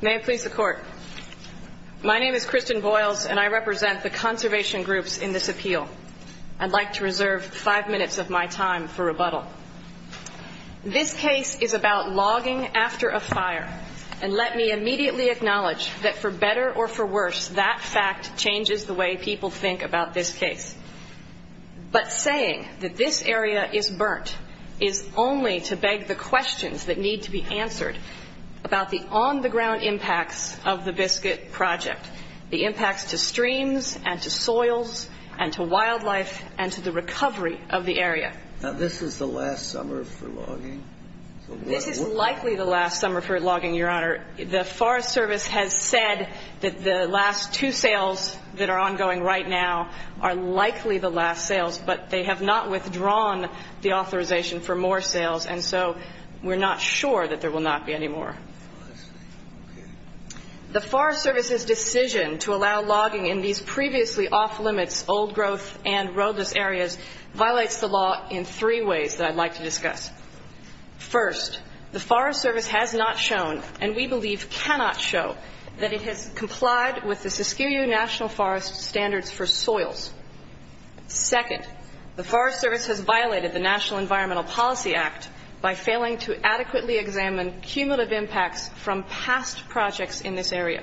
May it please the court. My name is Kristen Boyles and I represent the conservation groups in this appeal. I'd like to reserve five minutes of my time for rebuttal. This case is about logging after a fire and let me immediately acknowledge that for better or for worse that fact changes the way people think about this case. But saying that this area is burnt is only to beg the on-the-ground impacts of the biscuit project. The impacts to streams and to soils and to wildlife and to the recovery of the area. Now this is the last summer for logging? This is likely the last summer for logging your honor. The Forest Service has said that the last two sales that are ongoing right now are likely the last sales but they have not withdrawn the authorization for more sales and so we're not sure that there will not be any more. The Forest Service's decision to allow logging in these previously off-limits old growth and roadless areas violates the law in three ways that I'd like to discuss. First, the Forest Service has not shown and we believe cannot show that it has complied with the Saskia National Forest standards for soils. Second, the Forest Service has violated the National Environmental Policy Act by failing to adequately examine cumulative impacts from past projects in this area.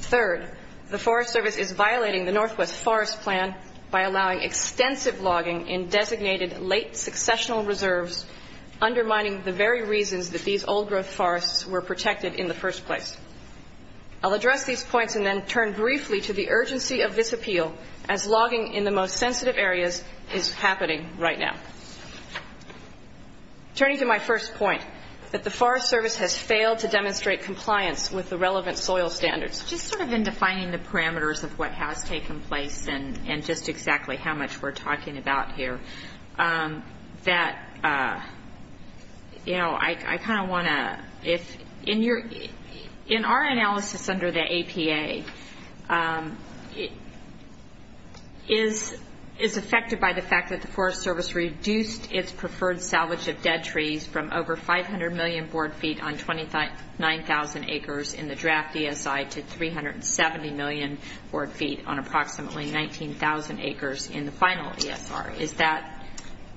Third, the Forest Service is violating the Northwest Forest Plan by allowing extensive logging in designated late successional reserves undermining the very reasons that these old growth forests were protected in the first place. I'll address these points and then turn briefly to the urgency of this happening right now. Turning to my first point that the Forest Service has failed to demonstrate compliance with the relevant soil standards. Just sort of in defining the parameters of what has taken place and and just exactly how much we're talking about here that you know I kind of want to if in your in our Forest Service reduced its preferred salvage of dead trees from over 500 million board feet on 29,000 acres in the draft ESI to 370 million board feet on approximately 19,000 acres in the final ESR. Is that?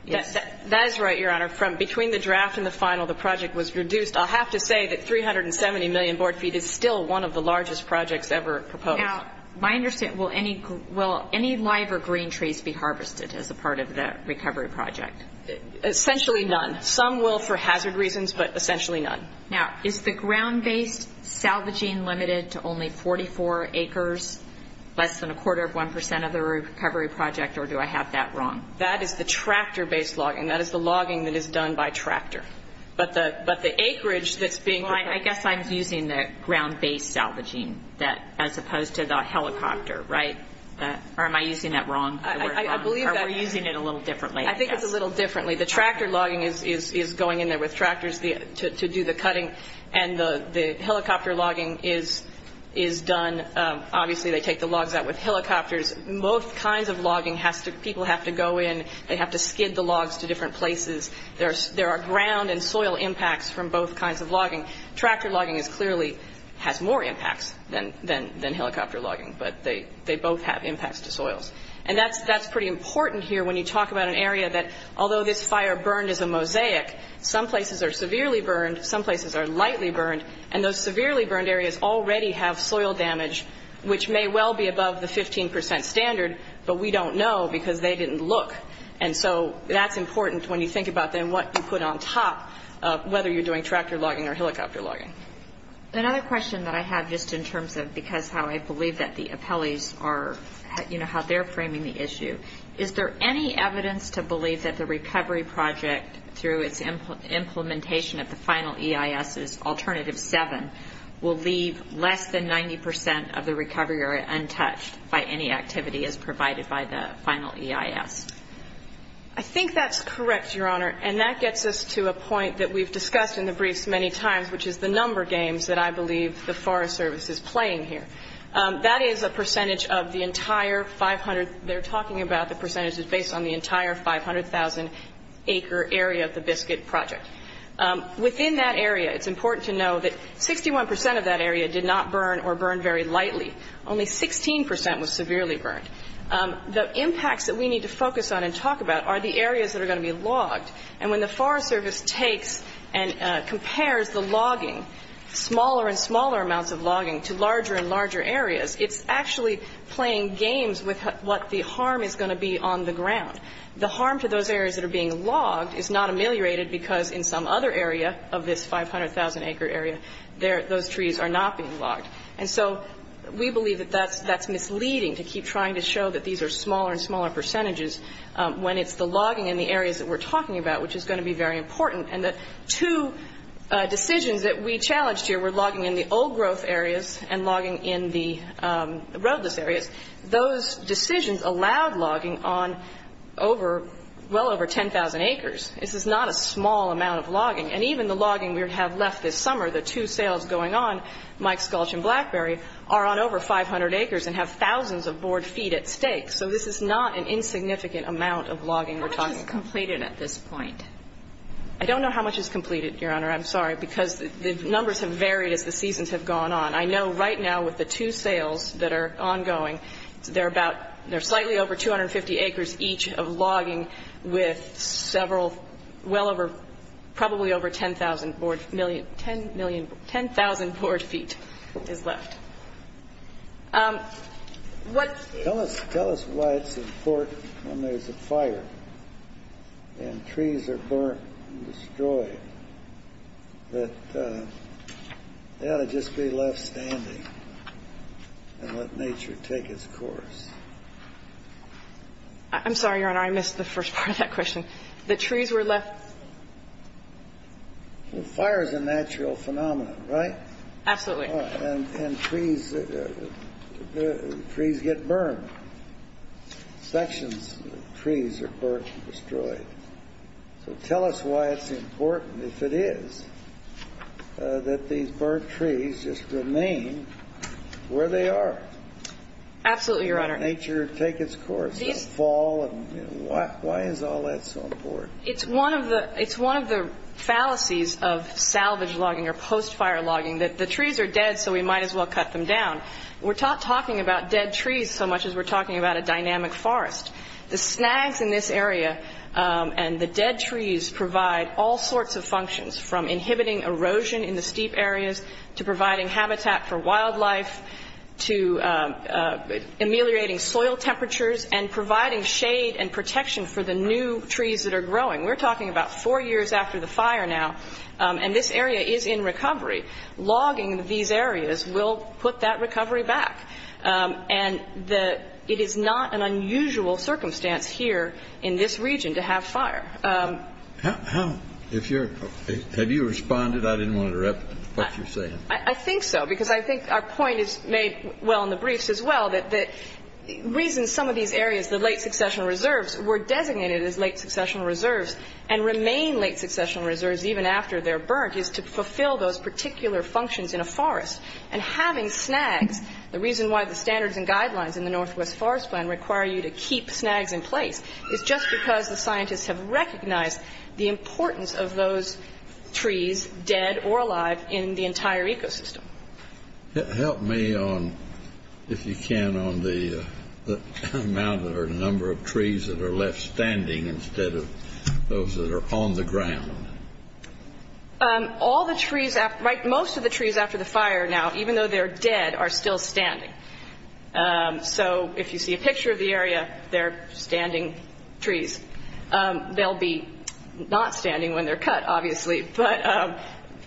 That is right, Your Honor. From between the draft and the final the project was reduced. I'll have to say that 370 million board feet is still one of the largest projects ever proposed. Now my understanding, will any live or green trees be harvested as a part of the recovery project? Essentially none. Some will for hazard reasons but essentially none. Now is the ground-based salvaging limited to only 44 acres less than a quarter of 1% of the recovery project or do I have that wrong? That is the tractor based logging. That is the logging that is done by tractor. But the acreage that's being... I guess I'm using the ground-based salvaging that as opposed to the helicopter, right? Or am I using that wrong? I believe that we're using it a little differently. I think it's a little differently. The tractor logging is going in there with tractors to do the cutting and the helicopter logging is done obviously they take the logs out with helicopters. Most kinds of logging has to people have to go in they have to skid the logs to different places. There are ground and soil impacts from both kinds of logging. Tractor logging is clearly has more impacts than helicopter logging but they both have impacts to soils. And that's pretty important here when you talk about an area that although this fire burned as a mosaic, some places are severely burned, some places are lightly burned, and those severely burned areas already have soil damage which may well be above the 15% standard but we don't know because they didn't look. And so that's important when you think about then what you put on top whether you're doing tractor logging or helicopter logging. Another question that I have just in terms of because how I believe that the appellees are, you know, how they're framing the issue. Is there any evidence to believe that the recovery project through its implementation of the final EIS's alternative seven will leave less than 90% of the recovery area untouched by any activity as provided by the final EIS? I think that's correct, Your Honor. And that gets us to a point that we've discussed in the briefs many times which is the number games that I believe the Forest Service is playing here. That is a percentage of the entire 500, they're talking about the percentages based on the entire 500,000 acre area of the Biscuit Project. Within that area, it's important to know that 61% of that area did not burn or burn very lightly. Only 16% was severely burned. The impacts that we need to focus on and talk about are the areas that are going to be logged. And when the Forest Service takes and compares the logging, smaller and smaller amounts of logging to larger and larger areas, it's actually playing games with what the harm is going to be on the ground. The harm to those areas that are being logged is not ameliorated because in some other area of this 500,000 acre area, those trees are not being logged. And so we believe that that's misleading to keep trying to show that these are smaller and smaller percentages when it's the logging in the areas that we're talking about which is going to be very important. And the two decisions that we challenged here were logging in the old growth areas and logging in the roadless areas. Those decisions allowed logging on over, well over 10,000 acres. This is not a small amount of logging. And even the logging we have left this summer, the two sales going on, Mike Sculch and Blackberry, are on over 500 acres and have thousands of board feet at stake. So this is not an insignificant amount of logging we're talking about. How much is completed at this point? I don't know how much is completed, Your Honor. I'm sorry. Because the numbers have varied as the seasons have gone on. I know right now with the two sales that are ongoing, they're about, they're slightly over 250 acres each of logging with several, well over, probably over 10,000 board, 10,000 board feet is left. Tell us, tell us why it's important when there's a fire and trees are burnt and destroyed that they ought to just be left standing and let nature take its course. I'm sorry, Your Honor. I missed the first part of that question. The trees were left Well, fire is a natural phenomenon, right? Absolutely. And trees, trees get burned. Sections of trees are burnt and destroyed. So tell us why it's important, if it is, that these burnt trees just remain where they are. Absolutely, Your Honor. Let nature take its course, don't fall. Why is all that so important? It's one of the, it's one of the fallacies of salvage logging or post-fire logging that the trees are dead so we might as well cut them down. We're talking about dead trees so much as we're talking about a dynamic forest. The snags in this area and the dead trees provide all sorts of functions from inhibiting erosion in the steep areas to providing habitat for wildlife to ameliorating soil temperatures and providing shade and protection for the new trees that are growing. We're talking about four years after the fire now and this area is in fire. Logging these areas will put that recovery back. And the, it is not an unusual circumstance here in this region to have fire. How, if you're, have you responded? I didn't want to interrupt what you're saying. I think so because I think our point is made well in the briefs as well that the reason some of these areas, the late succession reserves, were designated as late succession reserves and remain late succession reserves even after they're burnt is to fulfill those particular functions in a forest. And having snags, the reason why the standards and guidelines in the Northwest Forest Plan require you to keep snags in place is just because the scientists have recognized the importance of those trees, dead or alive, in the entire ecosystem. Help me on, if you can, on the amount or number of trees that are left standing instead of those that are on the ground. All the trees, right, most of the trees after the fire now, even though they're dead, are still standing. So if you see a picture of the area, they're standing trees. They'll be not standing when they're cut, obviously, but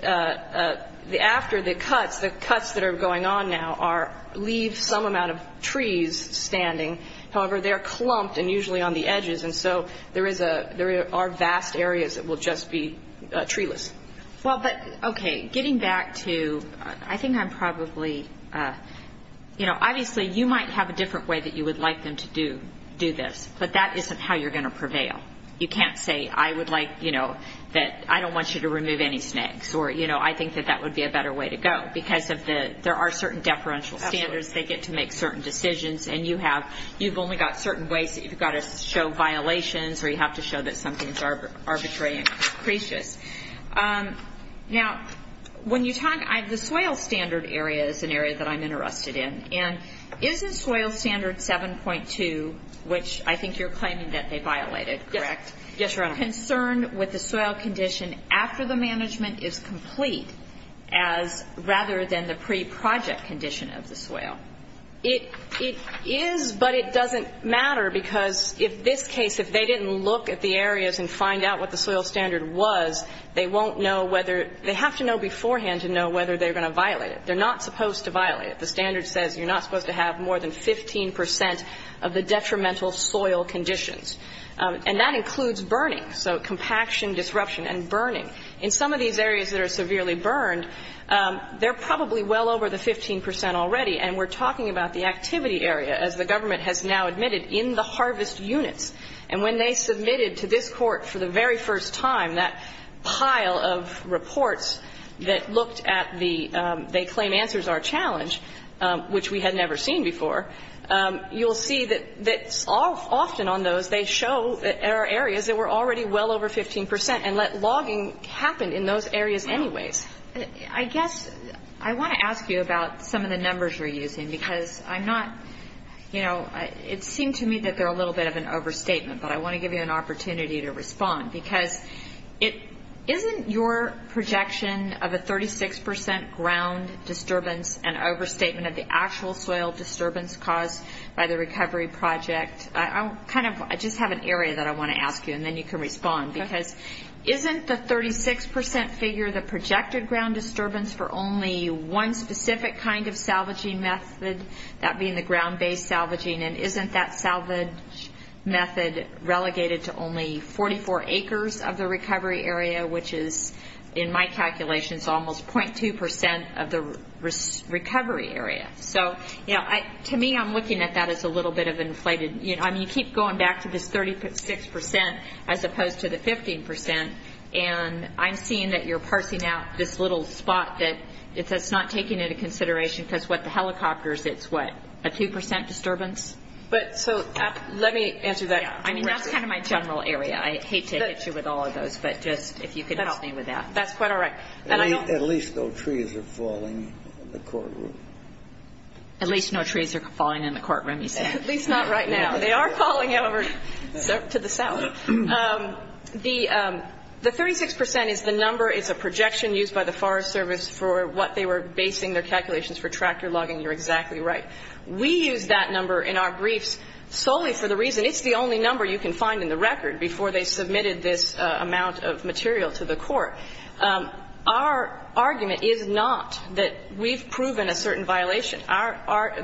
after the cuts, the cuts that are going on now are, leave some amount of trees standing. However, they're clumped and usually on the edges, and so there are vast areas that will just be treeless. Well, but, okay, getting back to, I think I'm probably, you know, obviously, you might have a different way that you would like them to do this, but that isn't how you're going to prevail. You can't say, I would like, you know, that I don't want you to remove any snags, or, you know, I think that that would be a better way to go because of the, there are certain deferential standards, they get to make certain decisions, and you have, you've only got certain ways that you've got to show violations, or you have to show that something's arbitrary and capricious. Now, when you talk, the soil standard area is an area that I'm interested in, and isn't soil standard 7.2, which I think you're claiming that they violated, correct? Yes, Your Honor. Concerned with the soil condition after the management is complete as, rather than the pre-project condition of the soil. It is, but it doesn't matter because if this case, if they didn't look at the areas and find out what the soil standard was, they won't know whether, they have to know beforehand to know whether they're going to violate it. They're not supposed to violate it. The standard says you're not supposed to have more than 15 percent of the detrimental soil conditions, and that includes burning, so compaction, disruption, and burning. In some of these areas that are severely burned, they're probably well over the 15 percent already, and we're talking about the activity area, as the government has now admitted, in the harvest units. And when they submitted to this Court for the very first time that pile of reports that looked at the, they claim answers are a challenge, which we had never seen before, you'll see that often on those, they show that there are areas that were already well over 15 percent and let logging happen in those areas anyways. I guess I want to ask you about some of the numbers you're using, because I'm not, you know, it seemed to me that they're a little bit of an overstatement, but I want to give you an opportunity to respond, because it isn't your projection of a 36 percent ground disturbance and overstatement of the actual soil disturbance caused by the recovery project. I kind of, I just have an area that I want to ask you, and then you can respond, because isn't the 36 percent figure the projected ground disturbance for only one specific kind of salvaging method, that being the ground-based salvaging, and isn't that salvage method relegated to only 44 acres of the recovery area, which is, in my calculations, almost 0.2 percent of the recovery area? So, you know, to me, I'm looking at that as a little bit of an inflated, you know, I mean, you keep going back to this 36 percent as opposed to the 15 percent, and I'm seeing that you're parsing out this little spot that it's not taking into consideration, because what the helicopters, it's what, a 2 percent disturbance? But, so, let me answer that. Yeah. I mean, that's kind of my general area. I hate to hit you with all of those, but just, if you could help me with that. That's quite all right. And I don't At least no trees are falling in the courtroom. At least no trees are falling in the courtroom, you said. At least not right now. They are falling over to the south. The 36 percent is the number, it's a projection used by the Forest Service for what they were basing their calculations for tractor logging. You're exactly right. We use that number in our briefs solely for the reason it's the only number you can find in the record before they submitted this amount of material to the court. Our argument is not that we've proven a certain violation. Our,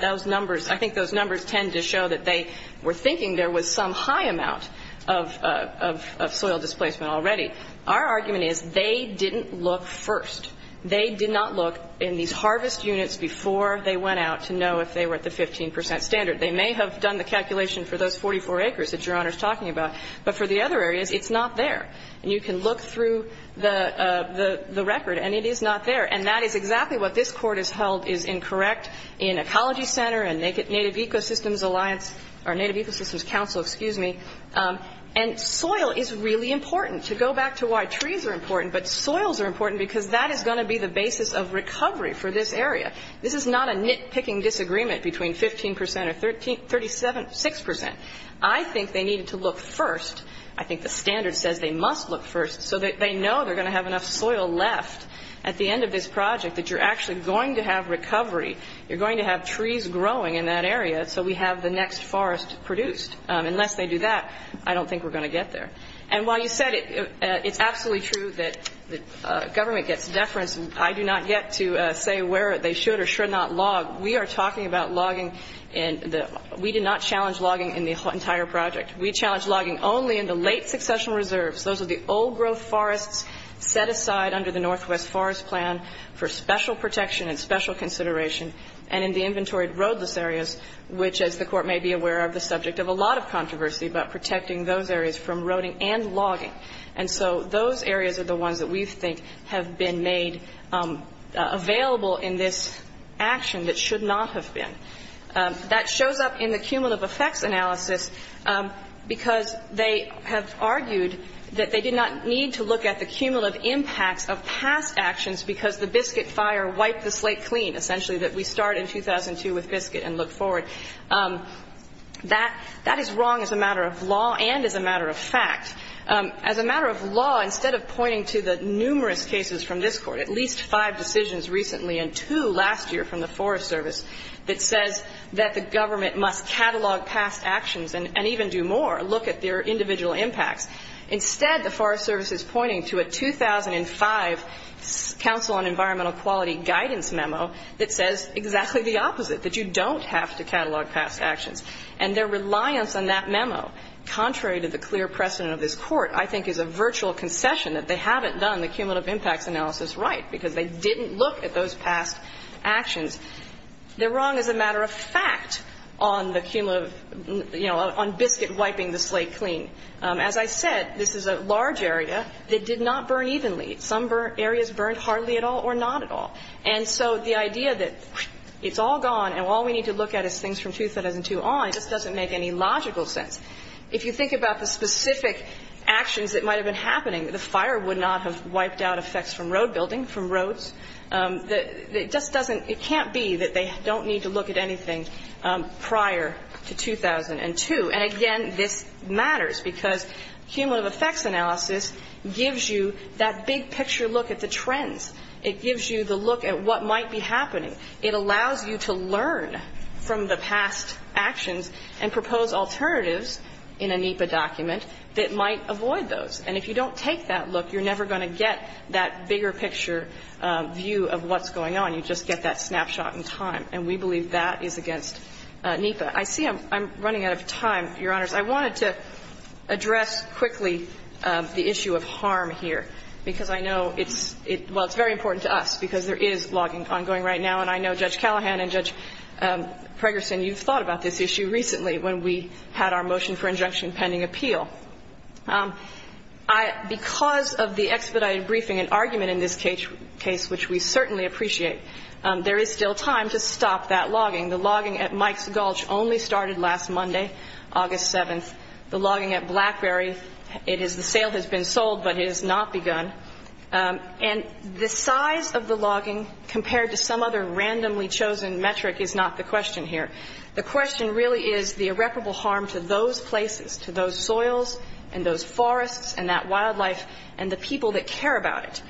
those numbers, I think those numbers tend to show that they were thinking there was some high amount of soil displacement already. Our argument is they didn't look first. They did not look in these harvest units before they went out to know if they were at the 15 percent standard. They may have done the calculation for those 44 acres that Your Honor is talking about, but for the other areas, it's not there. And you can look through the record, and it is not there. And that is exactly what this Court has held is incorrect in Ecology Center and Native Ecosystems Alliance, or Native Ecosystems Council, excuse me. And soil is really important. To go back to why trees are important, but soils are important because that is going to be the basis of recovery for this area. This is not a nitpicking disagreement between 15 percent or 37, 6 percent. I think they needed to look first. I think the standard says they must look first so that they know they're going to have enough soil left at the end of this project that you're actually going to have recovery. You're going to have trees growing in that area, so we have the next forest produced. Unless they do that, I don't think we're going to get there. And while you said it's absolutely true that government gets deference, I do not get to say where they should or should not log. We are talking about logging. We did not challenge logging in the entire project. We challenged logging only in the late succession reserves. Those are the old growth forests set aside under the Northwest Forest Plan for special protection and special consideration and in the inventory roadless areas, which, as the Court may be aware of, the subject of a lot of controversy about protecting those areas from roading and logging. And so those areas are the ones that we think have been made available in this action that should not have been. That shows up in the cumulative effects analysis because they have argued that they did not need to look at the cumulative impacts of past actions because the biscuit fire wiped the slate clean, essentially, that we start in 2002 with biscuit and look forward. That is wrong as a matter of law and as a matter of fact. As a matter of law, instead of pointing to the numerous cases from this Court, at least five decisions recently and two last year from the Forest Service that says that the government must catalog past actions and even do more, look at their individual impacts. Instead, the Forest Service is pointing to a 2005 Council on Environmental Quality guidance memo that says exactly the opposite, that you don't have to catalog past actions. And their reliance on that memo, contrary to the clear precedent of this Court, I think is a virtual concession that they haven't done the cumulative impacts analysis right because they didn't look at those past actions. They're wrong as a matter of fact on the cumulative, you know, on biscuit wiping the slate clean. As I said, this is a large area that did not burn evenly. Some areas burned hardly at all or not at all. And so the idea that it's all gone and all we need to look at is things from 2002 on just doesn't make any logical sense. If you think about the specific actions that might have been happening, the fire would not have wiped out effects from road building, from roads. It just doesn't – it can't be that they don't need to look at anything prior to 2002. And again, this matters because cumulative effects analysis gives you that big picture look at the trends. It gives you the look at what might be happening. It allows you to learn from the past actions and propose alternatives in a NEPA document that might avoid those. And if you don't take that look, you're never going to get that bigger picture view of what's going on. You just get that snapshot in time. And we believe that is against NEPA. I see I'm running out of time, Your Honors. I wanted to address quickly the issue of harm here because I know it's – well, it's very important to us because there is logging ongoing right now. And I know Judge Callahan and Judge Pregerson, you've thought about this issue recently when we had our motion for injunction pending appeal. Because of the expedited briefing and argument in this case, which we certainly appreciate, there is still time to stop that logging. The logging at Mike's Gulch only started last Monday, August 7th. The logging at Blackberry, it is – the sale has been sold, but it has not begun. And the size of the logging compared to some other randomly chosen metric is not the question here. The question really is the irreparable harm to those places, to those soils and those forests and that wildlife and the people that care about it.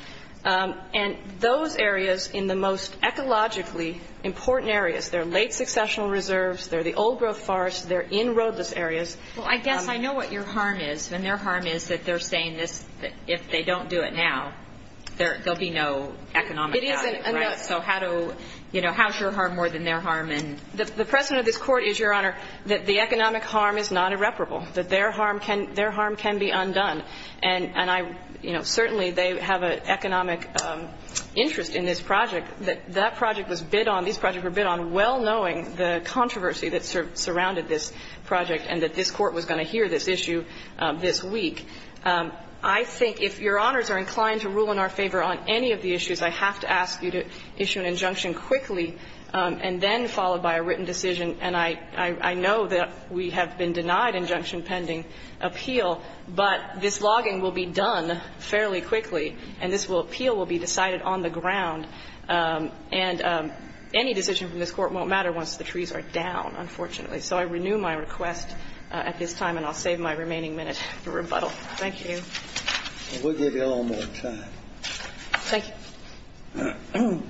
And those areas in the most ecologically important areas, they're late successional reserves, they're the old-growth forests, they're in roadless areas. Well, I guess I know what your harm is. And their harm is that they're saying this, if they don't do it now, there'll be no economic value. It isn't enough. So how to – you know, how is your harm more than their harm? And the precedent of this Court is, Your Honor, that the economic harm is not irreparable, that their harm can be undone. And I – you know, certainly they have an economic interest in this project. That project was bid on – these projects were bid on well knowing the controversy that surrounded this project and that this Court was going to hear this issue this week. I think if Your Honors are inclined to rule in our favor on any of the issues, I have to ask you to issue an injunction quickly and then followed by a written decision. And I know that we have been denied injunction pending appeal. But this logging will be done fairly quickly. And this appeal will be decided on the ground. And any decision from this Court won't matter once the trees are down, unfortunately. So I renew my request at this time. And I'll save my remaining minute for rebuttal. Thank you. And we'll give you a little more time. Thank you.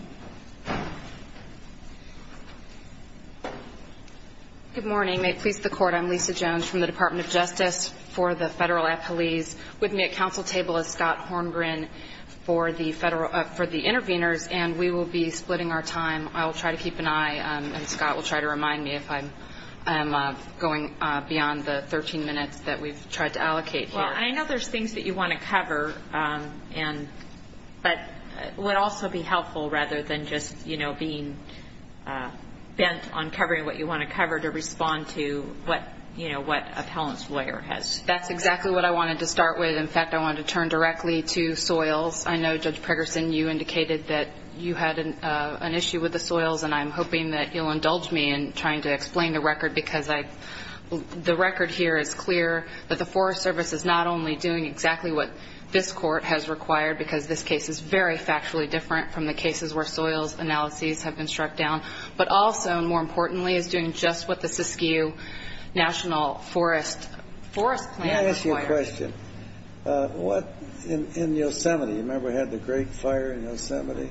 Good morning. May it please the Court, I'm Lisa Jones from the Department of Justice. For the federal appellees with me at council table is Scott Hornbrin for the federal – for the interveners. And we will be splitting our time. I will try to keep an eye. And Scott will try to remind me if I'm going beyond the 13 minutes that we've tried to allocate here. Well, I know there's things that you want to cover and – but would also be helpful rather than just, you know, being bent on covering what you want to cover to respond to what, you know, what appellant's lawyer has. That's exactly what I wanted to start with. In fact, I wanted to turn directly to soils. I know, Judge Preggerson, you indicated that you had an issue with the soils. And I'm hoping that you'll indulge me in trying to explain the record because I – the record here is clear that the Forest Service is not only doing exactly what this Court has required because this case is very factually different from the cases where soils analyses have been struck down. But also, and more importantly, is doing just what the Siskiyou National Forest – Forest Plan requires. May I ask you a question? What – in Yosemite, you remember we had the great fire in Yosemite?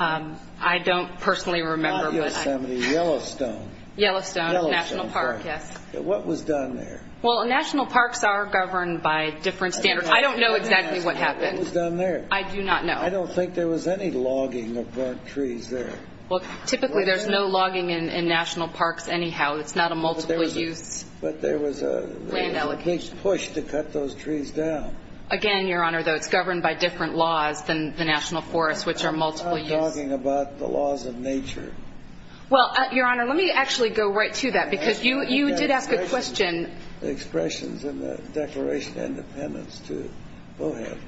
I don't personally remember. Not Yosemite, Yellowstone. Yellowstone, National Park, yes. What was done there? Well, National Parks are governed by different standards. I don't know exactly what happened. What was done there? I do not know. I don't think there was any logging of burnt trees there. Well, typically, there's no logging in National Parks anyhow. It's not a multiple-use land allocation. But there was a big push to cut those trees down. Again, Your Honor, though, it's governed by different laws than the National Forests, which are multiple-use. I'm not talking about the laws of nature. Well, Your Honor, let me actually go right to that because you did ask a question. Expressions in the Declaration of Independence to Bohan.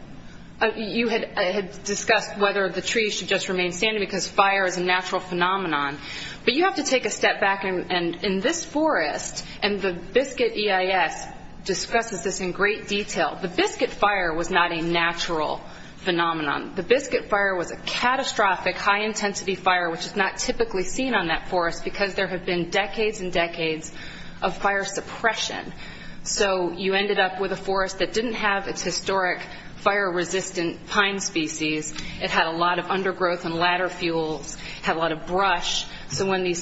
You had discussed whether the trees should just remain standing because fire is a natural phenomenon. But you have to take a step back. In this forest, and the Biscuit EIS discusses this in great detail, the Biscuit Fire was not a natural phenomenon. The Biscuit Fire was a catastrophic, high-intensity fire, which is not typically seen on that forest because there have been decades and decades of fire suppression. So you ended up with a forest that didn't have its historic fire-resistant pine species. It had a lot of undergrowth and ladder fuels, had a lot of brush. So when the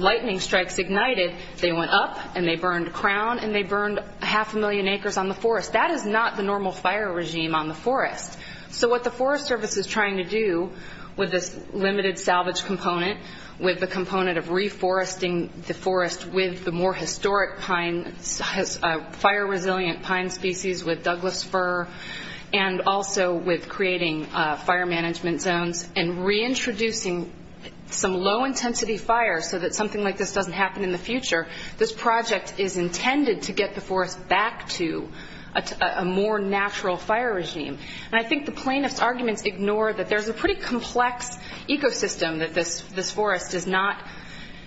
lightning strikes ignited, they went up and they burned crown and they burned half a million acres on the forest. That is not the normal fire regime on the forest. So what the Forest Service is trying to do with this limited salvage component, with the component of reforesting the forest with the more historic pine, fire-resilient pine species with Douglas fir, and also with creating fire management zones and reintroducing some low-intensity fire so that something like this doesn't happen in the future, this project is intended to get the forest back to a more natural fire regime. And I think the plaintiff's arguments ignore that there's a pretty complex ecosystem, that this forest is not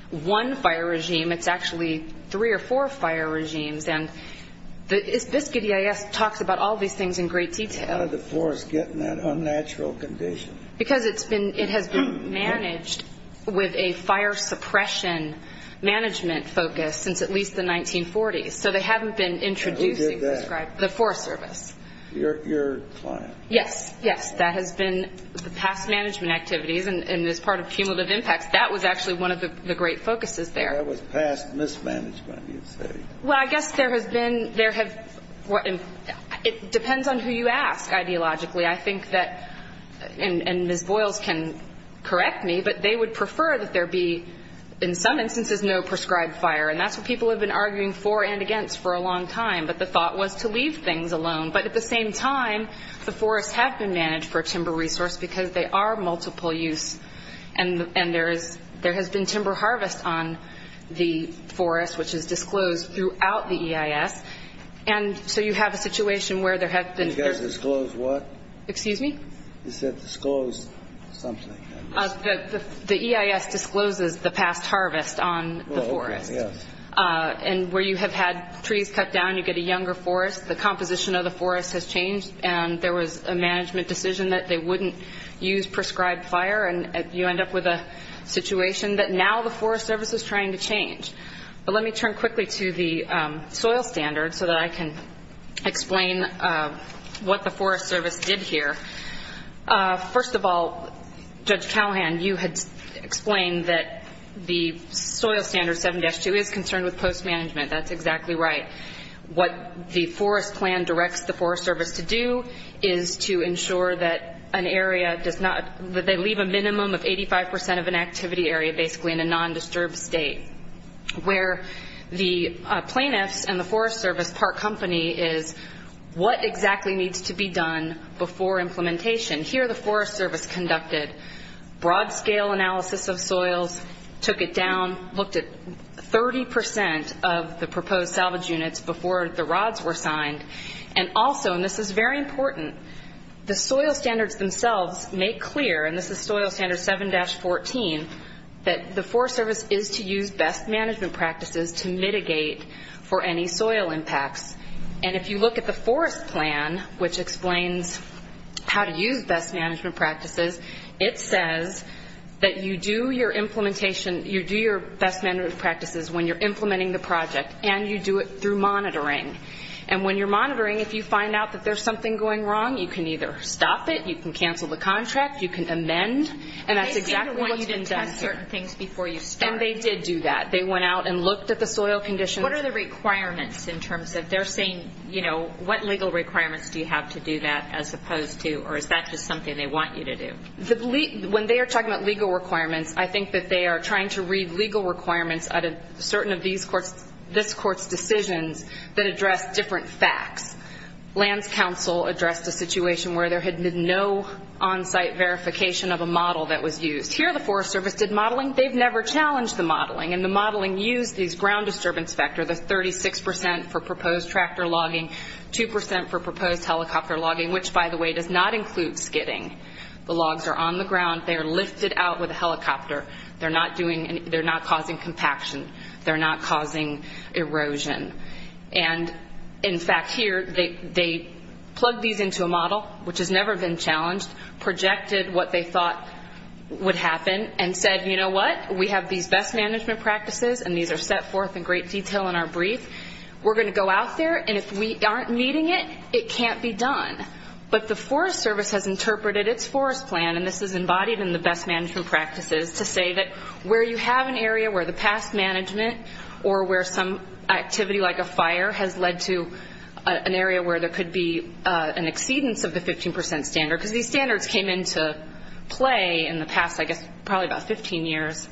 one fire regime, it's actually three or four fire regimes. And this Biscuit EIS talks about all these things in great detail. How did the forest get in that unnatural condition? Because it has been managed with a fire suppression management focus since at least the 1940s. So they haven't been introducing the Forest Service. Your client. Yes, yes. That has been the past management activities and is part of cumulative impacts. That was actually one of the great focuses there. That was past mismanagement, you'd say. Well, I guess there has been, it depends on who you ask, ideologically. I think that, and Ms. Boyles can correct me, but they would prefer that there be, in some instances, no prescribed fire. And that's what people have been arguing for and against for a long time. But the thought was to leave things alone. But at the same time, the forests have been managed for timber resource because they are multiple use. And there has been timber harvest on the forest, which is disclosed throughout the EIS. And so you have a situation where there has been. You guys disclose what? Excuse me? You said disclose something. The EIS discloses the past harvest on the forest. And where you have had trees cut down, you get a younger forest. The composition of the forest has changed. And there was a management decision that they wouldn't use prescribed fire. And you end up with a situation that now the Forest Service is trying to change. But let me turn quickly to the soil standard so that I can explain what the Forest Service did here. First of all, Judge Callahan, you had explained that the soil standard 7-2 is concerned with post-management. That's exactly right. What the forest plan directs the Forest Service to do is to ensure that an area does not, that they leave a minimum of 85% of an activity area, basically, in a non-disturbed state. Where the plaintiffs and the Forest Service, part company, is what exactly needs to be done before implementation. Here the Forest Service conducted broad-scale analysis of soils, took it down, looked at 30% of the proposed salvage units before the rods were signed. And also, and this is very important, the soil standards themselves make clear, and this is soil standard 7-14, that the Forest Service is to use best management practices to mitigate for any soil impacts. And if you look at the forest plan, which explains how to use best management practices, it says that you do your implementation, you do your best management practices when you're implementing the project, and you do it through monitoring. And when you're monitoring, if you find out that there's something going wrong, you can either stop it, you can cancel the contract, you can amend, and that's exactly what's been done here. They seem to want you to test certain things before you start. And they did do that. They went out and looked at the soil conditions. What are the requirements in terms of, they're saying, you know, what legal requirements do you have to do that as opposed to, or is that just something they want you to do? When they are talking about legal requirements, I think that they are trying to read legal requirements out of certain of this court's decisions that address different facts. Lands Council addressed a situation where there had been no on-site verification of a model that was used. Here, the Forest Service did modeling. They've never challenged the modeling, and the modeling used these ground disturbance factor, the 36% for proposed tractor logging, 2% for proposed helicopter logging, which, by the way, does not include skidding. The logs are on the ground. They are lifted out with a helicopter. They're not causing compaction. They're not causing erosion. And, in fact, here, they plugged these into a model, which has never been challenged, projected what they thought would happen, and said, you know what? We have these best management practices, and these are set forth in great detail in our brief. We're going to go out there, and if we aren't meeting it, it can't be done. But the Forest Service has interpreted its forest plan, and this is embodied in the best management practices, to say that where you have an area where the past management, or where some activity, like a fire, has led to an area where there could be an exceedance of the 15% standard, because these standards came into play in the past, I guess, probably about 15 years.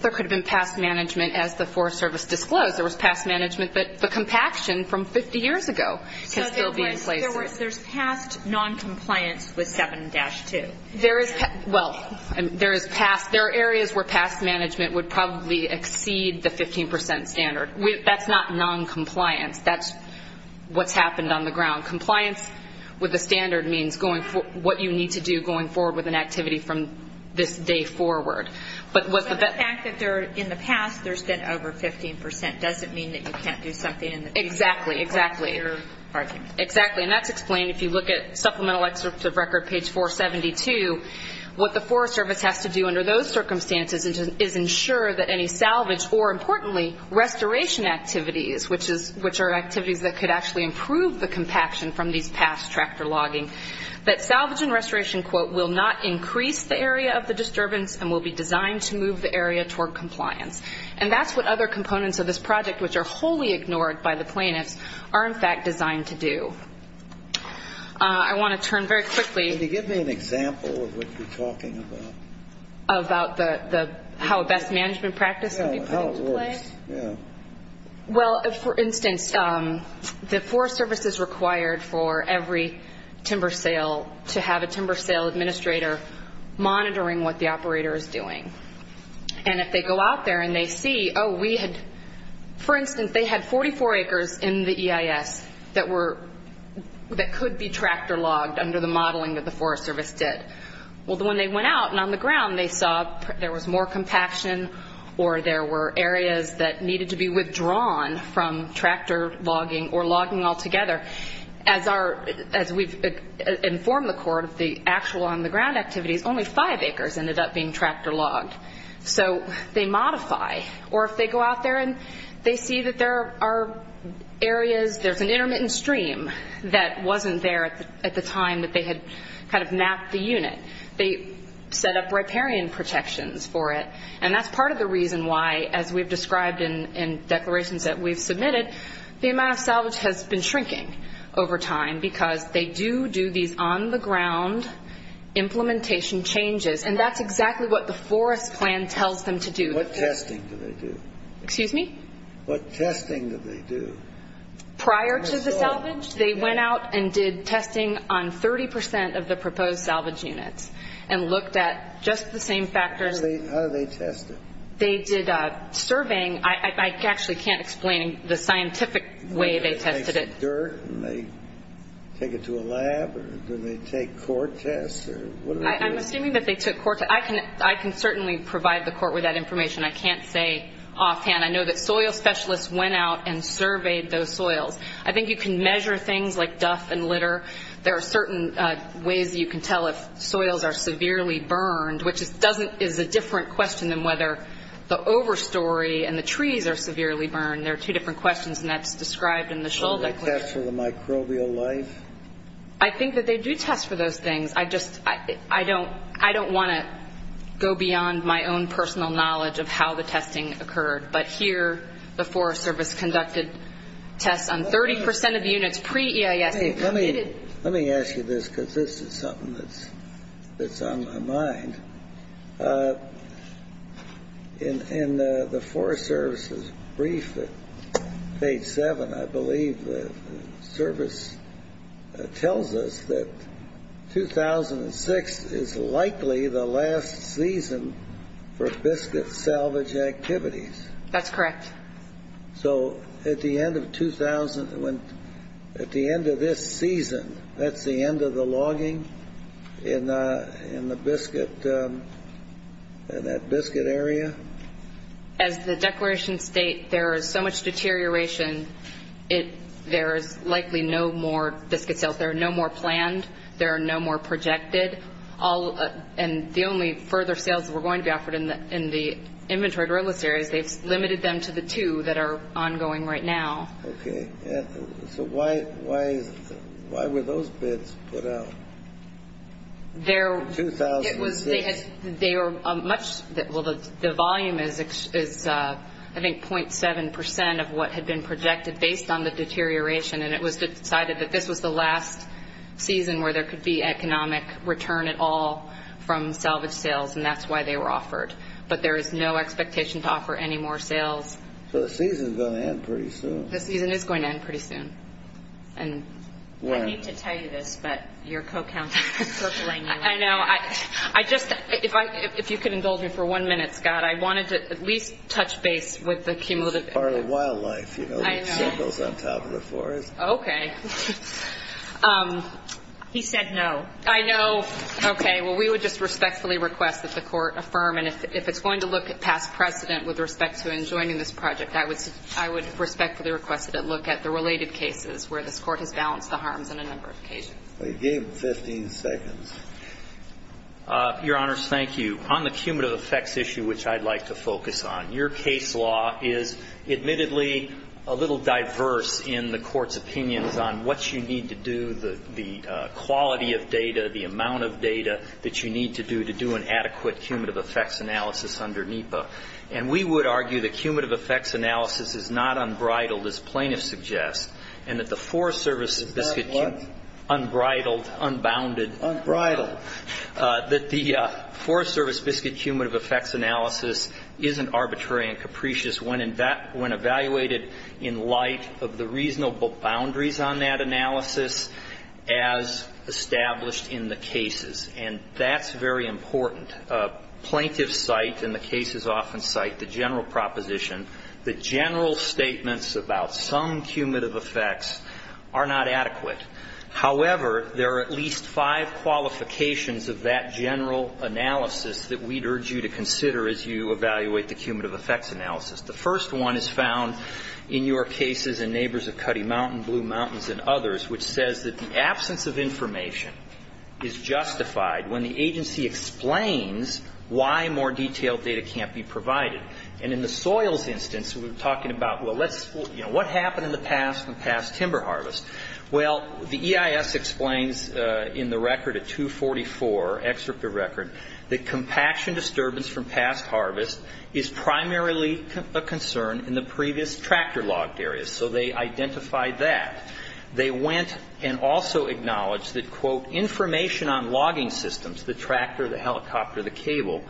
There could have been past management as the Forest Service disclosed. There was past management, but the compaction from 50 years ago can still be in place. So there's past noncompliance with 7-2. There is, well, there is past, there are areas where past management would probably exceed the 15% standard. That's not noncompliance. That's what's happened on the ground. Compliance with the standard means what you need to do going forward with an activity from this day forward. But the fact that in the past there's been over 15% doesn't mean that you can't do something in the future. Exactly, exactly. Exactly, and that's explained if you look at Supplemental Excerpt of Record, page 472, what the Forest Service has to do under those circumstances is ensure that any salvage, or importantly, restoration activities, which are activities that could actually improve the compaction from these past tractor logging, that salvage and restoration, quote, will not increase the area of the disturbance and will be designed to move the area toward compliance. And that's what other components of this project, which are wholly ignored by the plaintiffs, are in fact designed to do. I want to turn very quickly. Can you give me an example of what you're talking about? About how a best management practice can be put into play? Well, for instance, the Forest Service is required for every timber sale to have a timber sale administrator monitoring what the operator is doing. And if they go out there and they see, oh, we had, for instance, they had 44 acres in the EIS that could be tractor logged under the modeling that the Forest Service did. Well, when they went out and on the ground, they saw there was more compaction or there were areas that needed to be withdrawn from tractor logging or logging altogether. As we've informed the court of the actual on the ground activities, only five acres ended up being tractor logged. So they modify. Or if they go out there and they see that there are areas, there's an intermittent stream that wasn't there at the time that they had kind of mapped the unit. They set up riparian protections for it. And that's part of the reason why, as we've described in declarations that we've submitted, the amount of salvage has been shrinking over time because they do do these on the ground implementation changes. And that's exactly what the forest plan tells them to do. What testing do they do? Excuse me? What testing do they do? Prior to the salvage, they went out and did testing on 30% of the proposed salvage units and looked at just the same factors. How did they test it? They did a surveying. I actually can't explain the scientific way they tested it. Do they take some dirt and they take it to a lab or do they take core tests? I'm assuming that they took core tests. I can certainly provide the court with that information. I can't say offhand. I know that soil specialists went out and surveyed those soils. I think you can measure things like duff and litter there are certain ways you can tell if soils are severely burned, which is a different question than whether the overstory and the trees are severely burned. There are two different questions and that's described in the shull. Do they test for the microbial life? I think that they do test for those things. I don't want to go beyond my own personal knowledge of how the testing occurred. But here the Forest Service conducted tests on 30% of units Let me ask you this because this is something that's on my mind. In the Forest Service's brief at page seven, I believe the service tells us that 2006 is likely the last season for biscuit salvage activities. That's correct. So at the end of 2000 at the end of this season, that's the end of the logging in the biscuit in that biscuit area? As the declarations state, there is so much deterioration there is likely no more biscuit sales. There are no more planned. There are no more projected. And the only further sales that were going to be offered in the inventory driller series, they've limited them to the two that are ongoing right now. OK, so why why? Why were those bits put out? There was they had they were much that well, the volume is is I think point seven percent of what had been projected based on the deterioration. And it was decided that this was the last season where there could be economic return at all from salvage sales. And that's why they were offered. But there is no expectation to offer any more sales. So the season is going to end pretty soon. The season is going to end pretty soon. And I need to tell you this, but your co-counsel. I know I just if I if you could indulge me for one minute, Scott, I wanted to at least touch base with the cumulative wildlife you know, those on top of the forest. OK. He said no. I know. OK, well, we would just respectfully request that the court affirm. And if it's going to look at past precedent with respect to enjoining this project, I would I would respectfully request that it look at the related cases where this court has balanced the harms on a number of occasions. Well, you gave him 15 seconds. Your Honor, thank you. On the cumulative effects issue, which I'd like to focus on, your case law is admittedly a little diverse in the court's opinions on what you need to do, the the quality of data, the amount of data that you need to do to do an adequate cumulative effects analysis under NEPA. And we would argue the cumulative effects analysis is not unbridled, as plaintiffs suggest, and that the Forest Service is unbridled, unbounded, unbridled, that the Forest Service biscuit cumulative effects analysis isn't arbitrary and capricious when evaluated in light of the reasonable boundaries on that analysis as established in the cases. And that's very important. Plaintiffs cite, and the cases often cite, the general proposition that general statements about some cumulative effects are not adequate. However, there are at least five qualifications of that general analysis that we'd urge you to consider as you evaluate the cumulative effects analysis. The first one is found in your cases in Neighbors of Cuddy Mountain, Blue Mountains, and others, which says that the absence of information is justified when the agency explains why more detailed data can't be provided. And in the soils instance, we were talking about, well, let's, you know, what happened in the past from past timber harvest? Well, the EIS explains in the record at 244, excerpt of record, that compaction disturbance from past harvest is primarily a concern in the previous tractor-logged areas. So they identified that. They went and also acknowledged that, quote, information on logging systems, the tractor, the helicopter, the cable,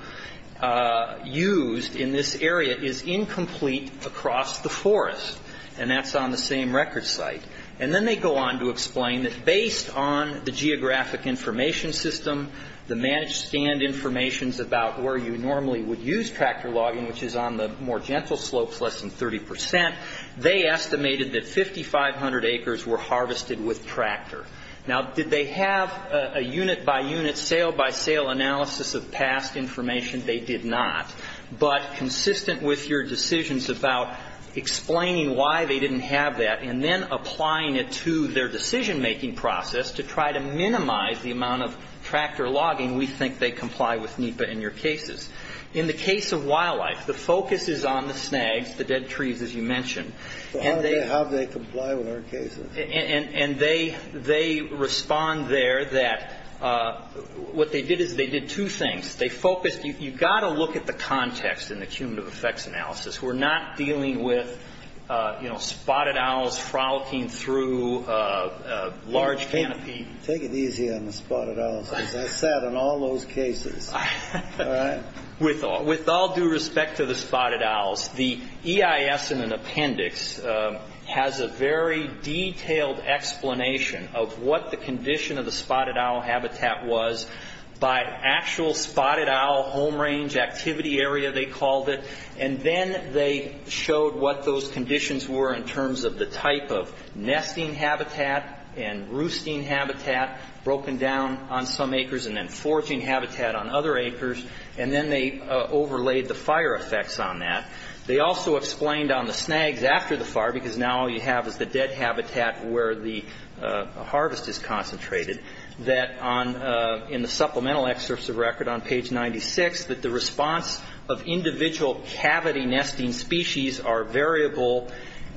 used in this area is incomplete across the forest. And that's on the same record site. And then they go on to explain that based on the geographic information system, the managed stand information about where you normally would use tractor logging, which is on the more gentle slopes, less than 30%, they estimated that 5,500 acres were harvested with tractor. Now, did they have a unit by unit, sale by sale analysis of past information? They did not. But consistent with your decisions about explaining why they didn't have that and then applying it to their decision-making process to try to minimize the amount of tractor logging, we think they comply with NEPA in your cases. In the case of wildlife, the focus is on the snags, the dead trees, as you mentioned. So how do they comply with our cases? And they respond there that what they did is they did two things. They focused, you've got to look at the context in the cumulative effects analysis. We're not dealing with, you know, spotted owls frolicking through a large canopy. Take it easy on the spotted owls. I sat on all those cases. With all due respect to the spotted owls, the EIS in an appendix has a very detailed explanation of what the condition of the spotted owl habitat was by actual spotted owl home range activity area, they called it. And then they showed what those conditions were in terms of the type of nesting habitat and roosting habitat broken down on some acres and then foraging habitat on other acres. And then they overlaid the fire effects on that. They also explained on the snags after the fire, because now all you have is the dead habitat where the harvest is concentrated, that in the supplemental excerpts of record on page 96, that the response of individual cavity nesting species are variable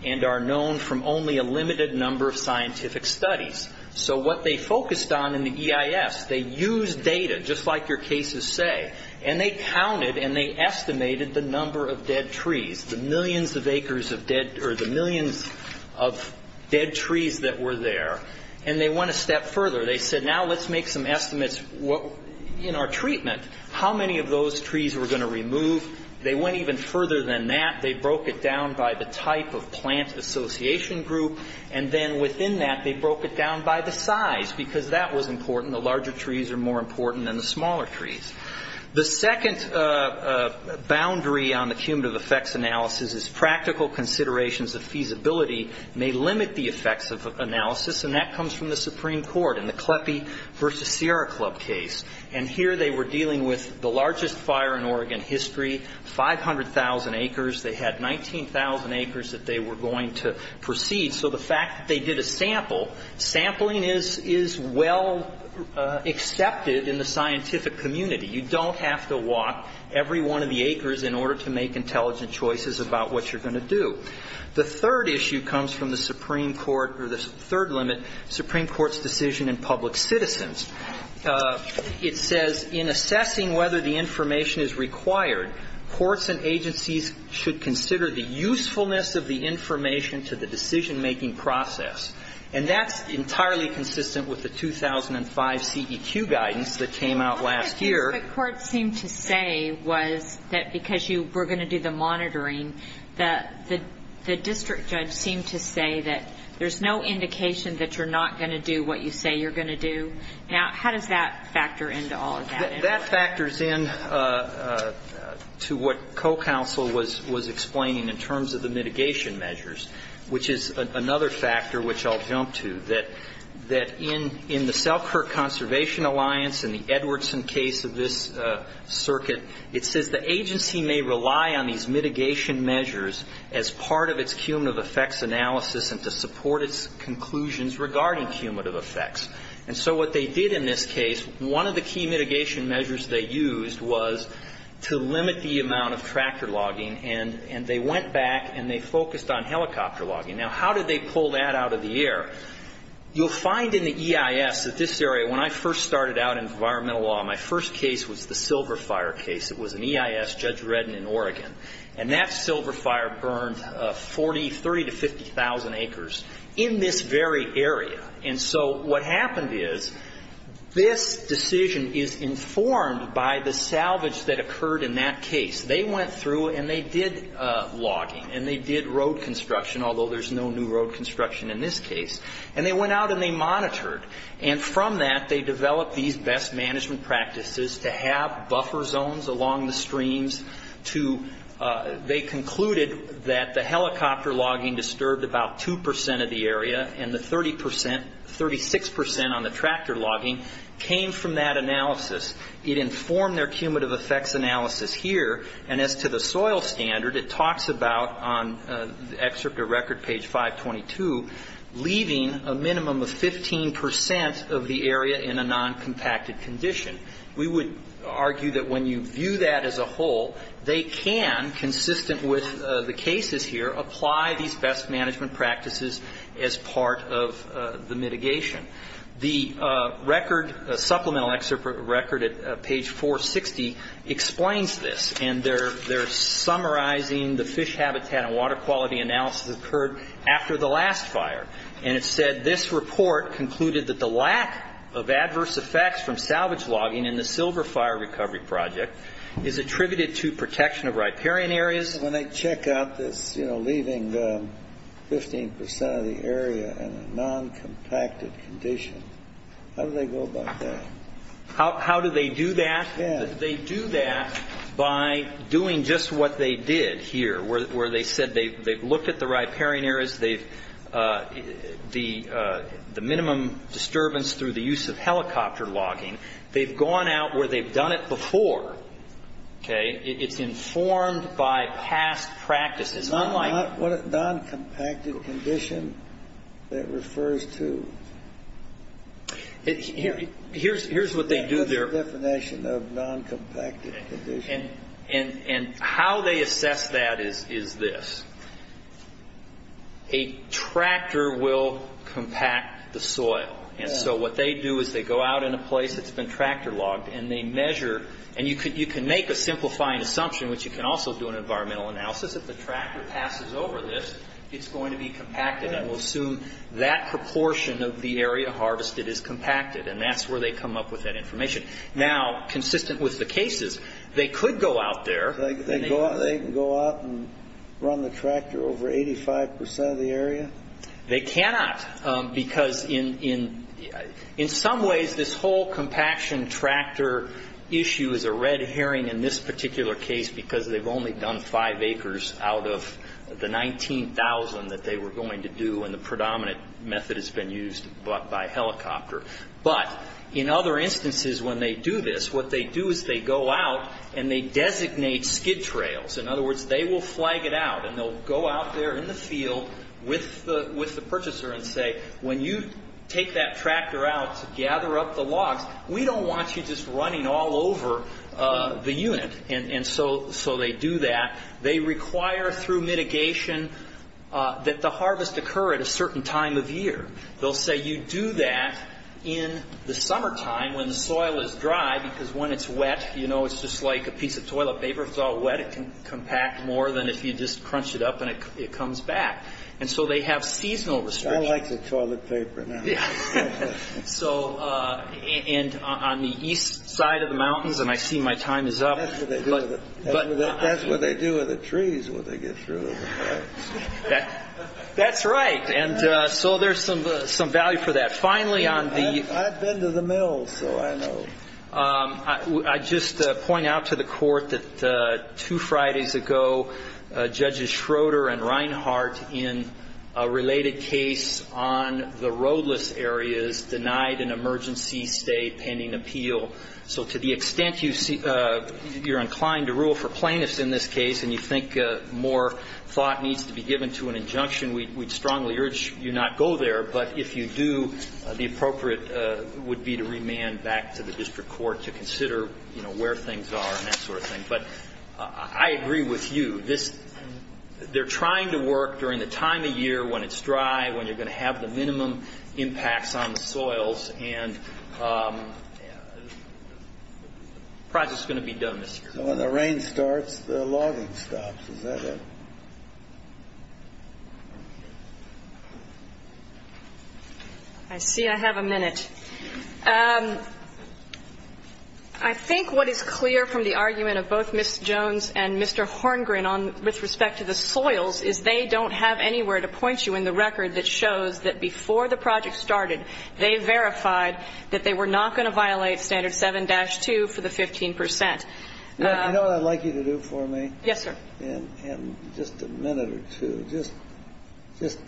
and are known from only a limited number of scientific studies. So what they focused on in the EIS, they used data, just like your cases say, and they counted and they estimated the number of dead trees, the millions of acres of dead or the millions of dead trees that were there. And they went a step further. They said, now let's make some estimates in our treatment. How many of those trees were going to remove? They went even further than that. They broke it down by the type of plant association group and then within that, they broke it down by the size because that was important. The larger trees are more important than the smaller trees. The second boundary on the cumulative effects analysis is practical considerations of feasibility may limit the effects of analysis and that comes from the Supreme Court. In the Kleppe v. Sierra Club case, and here they were dealing with the largest fire in Oregon history, 500,000 acres. They had 19,000 acres that they were going to proceed. So the fact that they did a sample, sampling is well accepted in the scientific community. You don't have to walk every one of the acres in order to make intelligent choices about what you're going to do. The third issue comes from the Supreme Court or the third limit, Supreme Court's decision in public citizens. It says, in assessing whether the information is required, courts and agencies should consider the usefulness of the information to the decision-making process. And that's entirely consistent with the 2005 CEQ guidance that came out last year. But what the courts seemed to say was that because you were going to do the monitoring, that the district judge seemed to say that there's no indication that you're not going to do what you say you're going to do. Now, how does that factor into all of that? That factors in to what co-counsel was explaining in terms of the mitigation measures, which is another factor which I'll jump to, that in the Selkirk Conservation Alliance and the Edwardson case of this circuit, it says the agency may rely on these mitigation measures as part of its cumulative effects analysis and to support its conclusions regarding cumulative effects. And so what they did in this case, one of the key mitigation measures they used was to limit the amount of tractor logging and they went back and they focused on helicopter logging. Now, how did they pull that out of the air? You'll find in the EIS that this area, when I first started out in environmental law, my first case was the Silver Fire case. It was an EIS, Judge Redden in Oregon. And that Silver Fire burned 30,000 to 50,000 acres in this very area. And so what happened is this decision is informed by the salvage that occurred in that case. They went through and they did logging and they did road construction, although there's no new road construction in this case. And they went out and they monitored. And from that, they developed these best management practices to have buffer zones along the streams, to they concluded that the helicopter logging disturbed about 2 percent of the area and the 30 percent, 36 percent on the tractor logging came from that analysis. It informed their cumulative effects analysis here. And as to the soil standard, it talks about, on excerpt of record, page 522, leaving a minimum of 15 percent of the area in a non-compacted condition. We would argue that when you view that as a whole, they can, consistent with the cases here, apply these best management practices as part of the mitigation. The record, supplemental excerpt of record at page 460, explains this. And they're summarizing the fish habitat and water quality analysis that occurred after the last fire. And it said, this report concluded that the lack of adverse effects from salvage logging in the Silver Fire Recovery Project is attributed to protection of riparian areas. When they check out this, you know, leaving 15 percent of the area in a non-compacted condition, how do they go about that? How do they do that? They do that by doing just what they did here, where they said they've looked at the riparian areas, they've, the minimum disturbance through the use of helicopter logging, they've gone out where they've done it before. Okay. It's informed by past practices. It's not like... What is non-compacted condition that refers to? Here's what they do there. What's the definition of non-compacted condition? And how they assess that is this. A tractor will compact the soil. And so what they do is they go out in a place that's been tractor logged and they measure, and you can make a simplifying assumption, which you can also do an environmental analysis, if the tractor passes over this, it's going to be compacted. And we'll assume that proportion of the area harvested is compacted. And that's where they come up with that information. Now, consistent with the cases, they could go out there. They can go out and run the tractor over 85 percent of the area? They cannot. Because in some ways, this whole compaction tractor issue is a red herring in this particular case, because they've only done five acres out of the 19,000 that they were going to do. And the predominant method has been used by helicopter. But in other instances, when they do this, what they do is they go out and they designate skid trails. In other words, they will flag it out and they'll go out there in the field with the purchaser and say, when you take that tractor out to gather up the logs, we don't want you running all over the unit. And so they do that. They require through mitigation that the harvest occur at a certain time of year. They'll say you do that in the summertime when the soil is dry, because when it's wet, you know, it's just like a piece of toilet paper. If it's all wet, it can compact more than if you just crunch it up and it comes back. And so they have seasonal restrictions. I like the toilet paper now. And on the east side of the mountains, and I see my time is up. That's what they do in the trees when they get through. That's right. And so there's some value for that. Finally, on the... I've been to the mills, so I know. I just point out to the court that two Fridays ago, Judges Schroeder and Reinhart in a related case on the roadless areas denied an emergency stay pending appeal. So to the extent you're inclined to rule for plaintiffs in this case and you think more thought needs to be given to an injunction, we'd strongly urge you not go there. But if you do, the appropriate would be to remand back to the district court to consider, you know, where things are and that sort of thing. But I agree with you. They're trying to work during the time of year when it's dry, when you're going to have the minimum impacts on the soils. And the process is going to be done, Mr. Jones. When the rain starts, the logging stops. Is that it? I see I have a minute. I think what is clear from the argument of both Ms. Jones and Mr. Horngren with respect to the soils is they don't have anywhere to point you in the record that shows that before the project started, they verified that they were not going to violate standard 7-2 for the 15%. You know what I'd like you to do for me? Yes, sir. In just a minute or two, just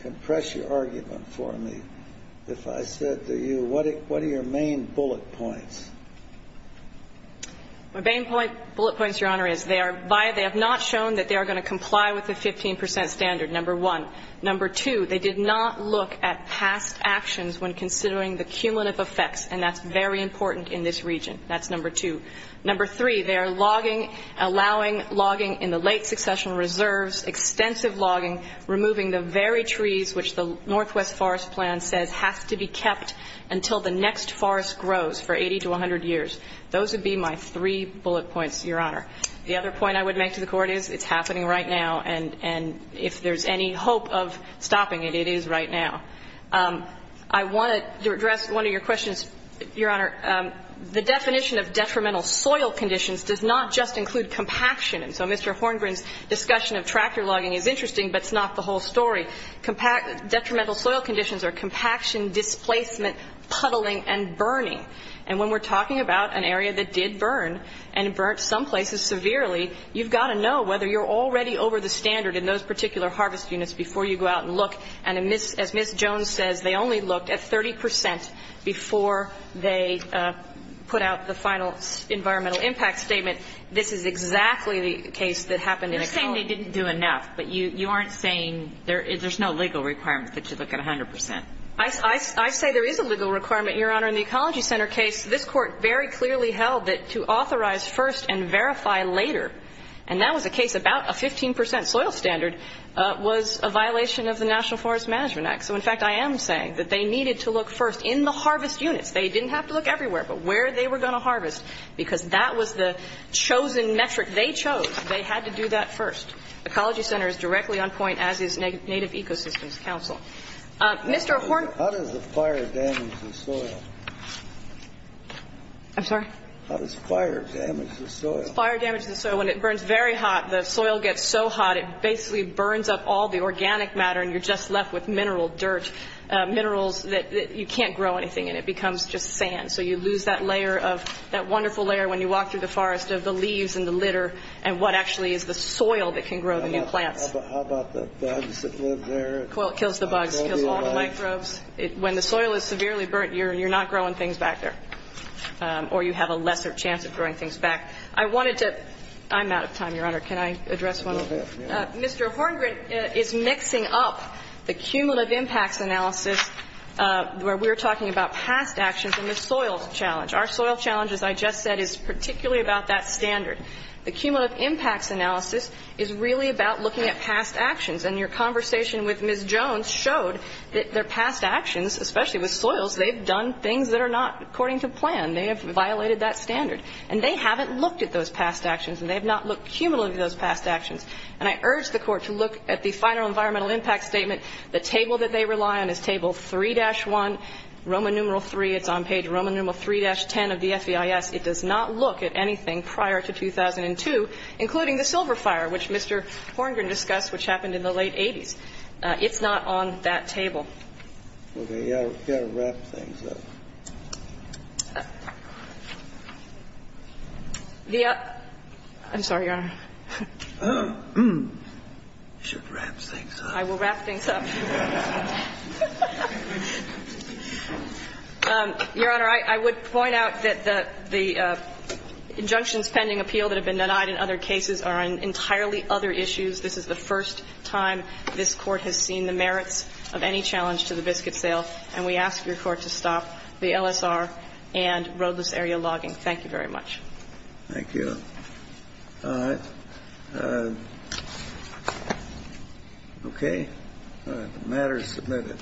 compress your argument for me. If I said to you, what are your main bullet points? My main bullet points, Your Honor, is they have not shown that they are going to comply with the 15% standard, number one. Number two, they did not look at past actions when considering the cumulative effects, and that's very important in this region. That's number two. Number three, they are logging, allowing logging in the late succession reserves, extensive logging, removing the very trees which the Northwest Forest Plan says have to be kept until the next forest grows for 80 to 100 years. Those would be my three bullet points, Your Honor. The other point I would make to the Court is it's happening right now. And if there's any hope of stopping it, it is right now. I want to address one of your questions, Your Honor. The definition of detrimental soil conditions does not just include compaction. And so Mr. Horngren's discussion of tractor logging is interesting, but it's not the whole story. Detrimental soil conditions are compaction, displacement, puddling, and burning. And when we're talking about an area that did burn and burnt some places severely, you've got to know whether you're already over the standard in those particular harvest units before you go out and look. And as Ms. Jones says, they only looked at 30 percent before they put out the final environmental impact statement. This is exactly the case that happened in a colony. You're saying they didn't do enough, but you aren't saying there's no legal requirement that you look at 100 percent. I say there is a legal requirement, Your Honor. In the Ecology Center case, this Court very clearly held that to authorize first and verify later, and that was a case about a 15 percent soil standard, was a violation of the National Forest Management Act. So, in fact, I am saying that they needed to look first in the harvest units. They didn't have to look everywhere, but where they were going to harvest, because that was the chosen metric they chose. They had to do that first. Ecology Center is directly on point as is Native Ecosystems Council. Mr. Horne. How does the fire damage the soil? I'm sorry? How does fire damage the soil? Fire damages the soil when it burns very hot. The soil gets so hot, it basically burns up all the organic matter, and you're just left with mineral dirt, minerals that you can't grow anything, and it becomes just sand. So you lose that layer of, that wonderful layer when you walk through the forest of the leaves and the litter, and what actually is the soil that can grow the new plants. How about the bugs that live there? Kills the bugs, kills all the microbes. When the soil is severely burnt, you're not growing things back there, or you have a lesser chance of growing things back. I wanted to, I'm out of time, Your Honor. Can I address one? Mr. Horngren is mixing up the cumulative impacts analysis, where we're talking about past actions and the soil challenge. Our soil challenge, as I just said, is particularly about that standard. The cumulative impacts analysis is really about looking at past actions, and your conversation with Ms. Jones showed that their past actions, especially with soils, they've done things that are not according to plan. They have violated that standard, and they haven't looked at those past actions, and they have not looked cumulatively at those past actions. And I urge the Court to look at the final environmental impact statement. The table that they rely on is table 3-1, Roman numeral 3. It's on page Roman numeral 3-10 of the FVIS. It does not look at anything prior to 2002, including the Silver Fire, which Mr. Horngren discussed, which happened in the late 80s. It's not on that table. Okay. You've got to wrap things up. The other – I'm sorry, Your Honor. You should wrap things up. I will wrap things up. Your Honor, I would point out that the injunctions pending appeal that have been denied in other cases This is the first time this Court has seen the merits of any challenge to the biscuit sale, and we ask your Court to stop the LSR and roadless area logging. Thank you very much. Thank you. All right. Okay. All right. The matter is submitted.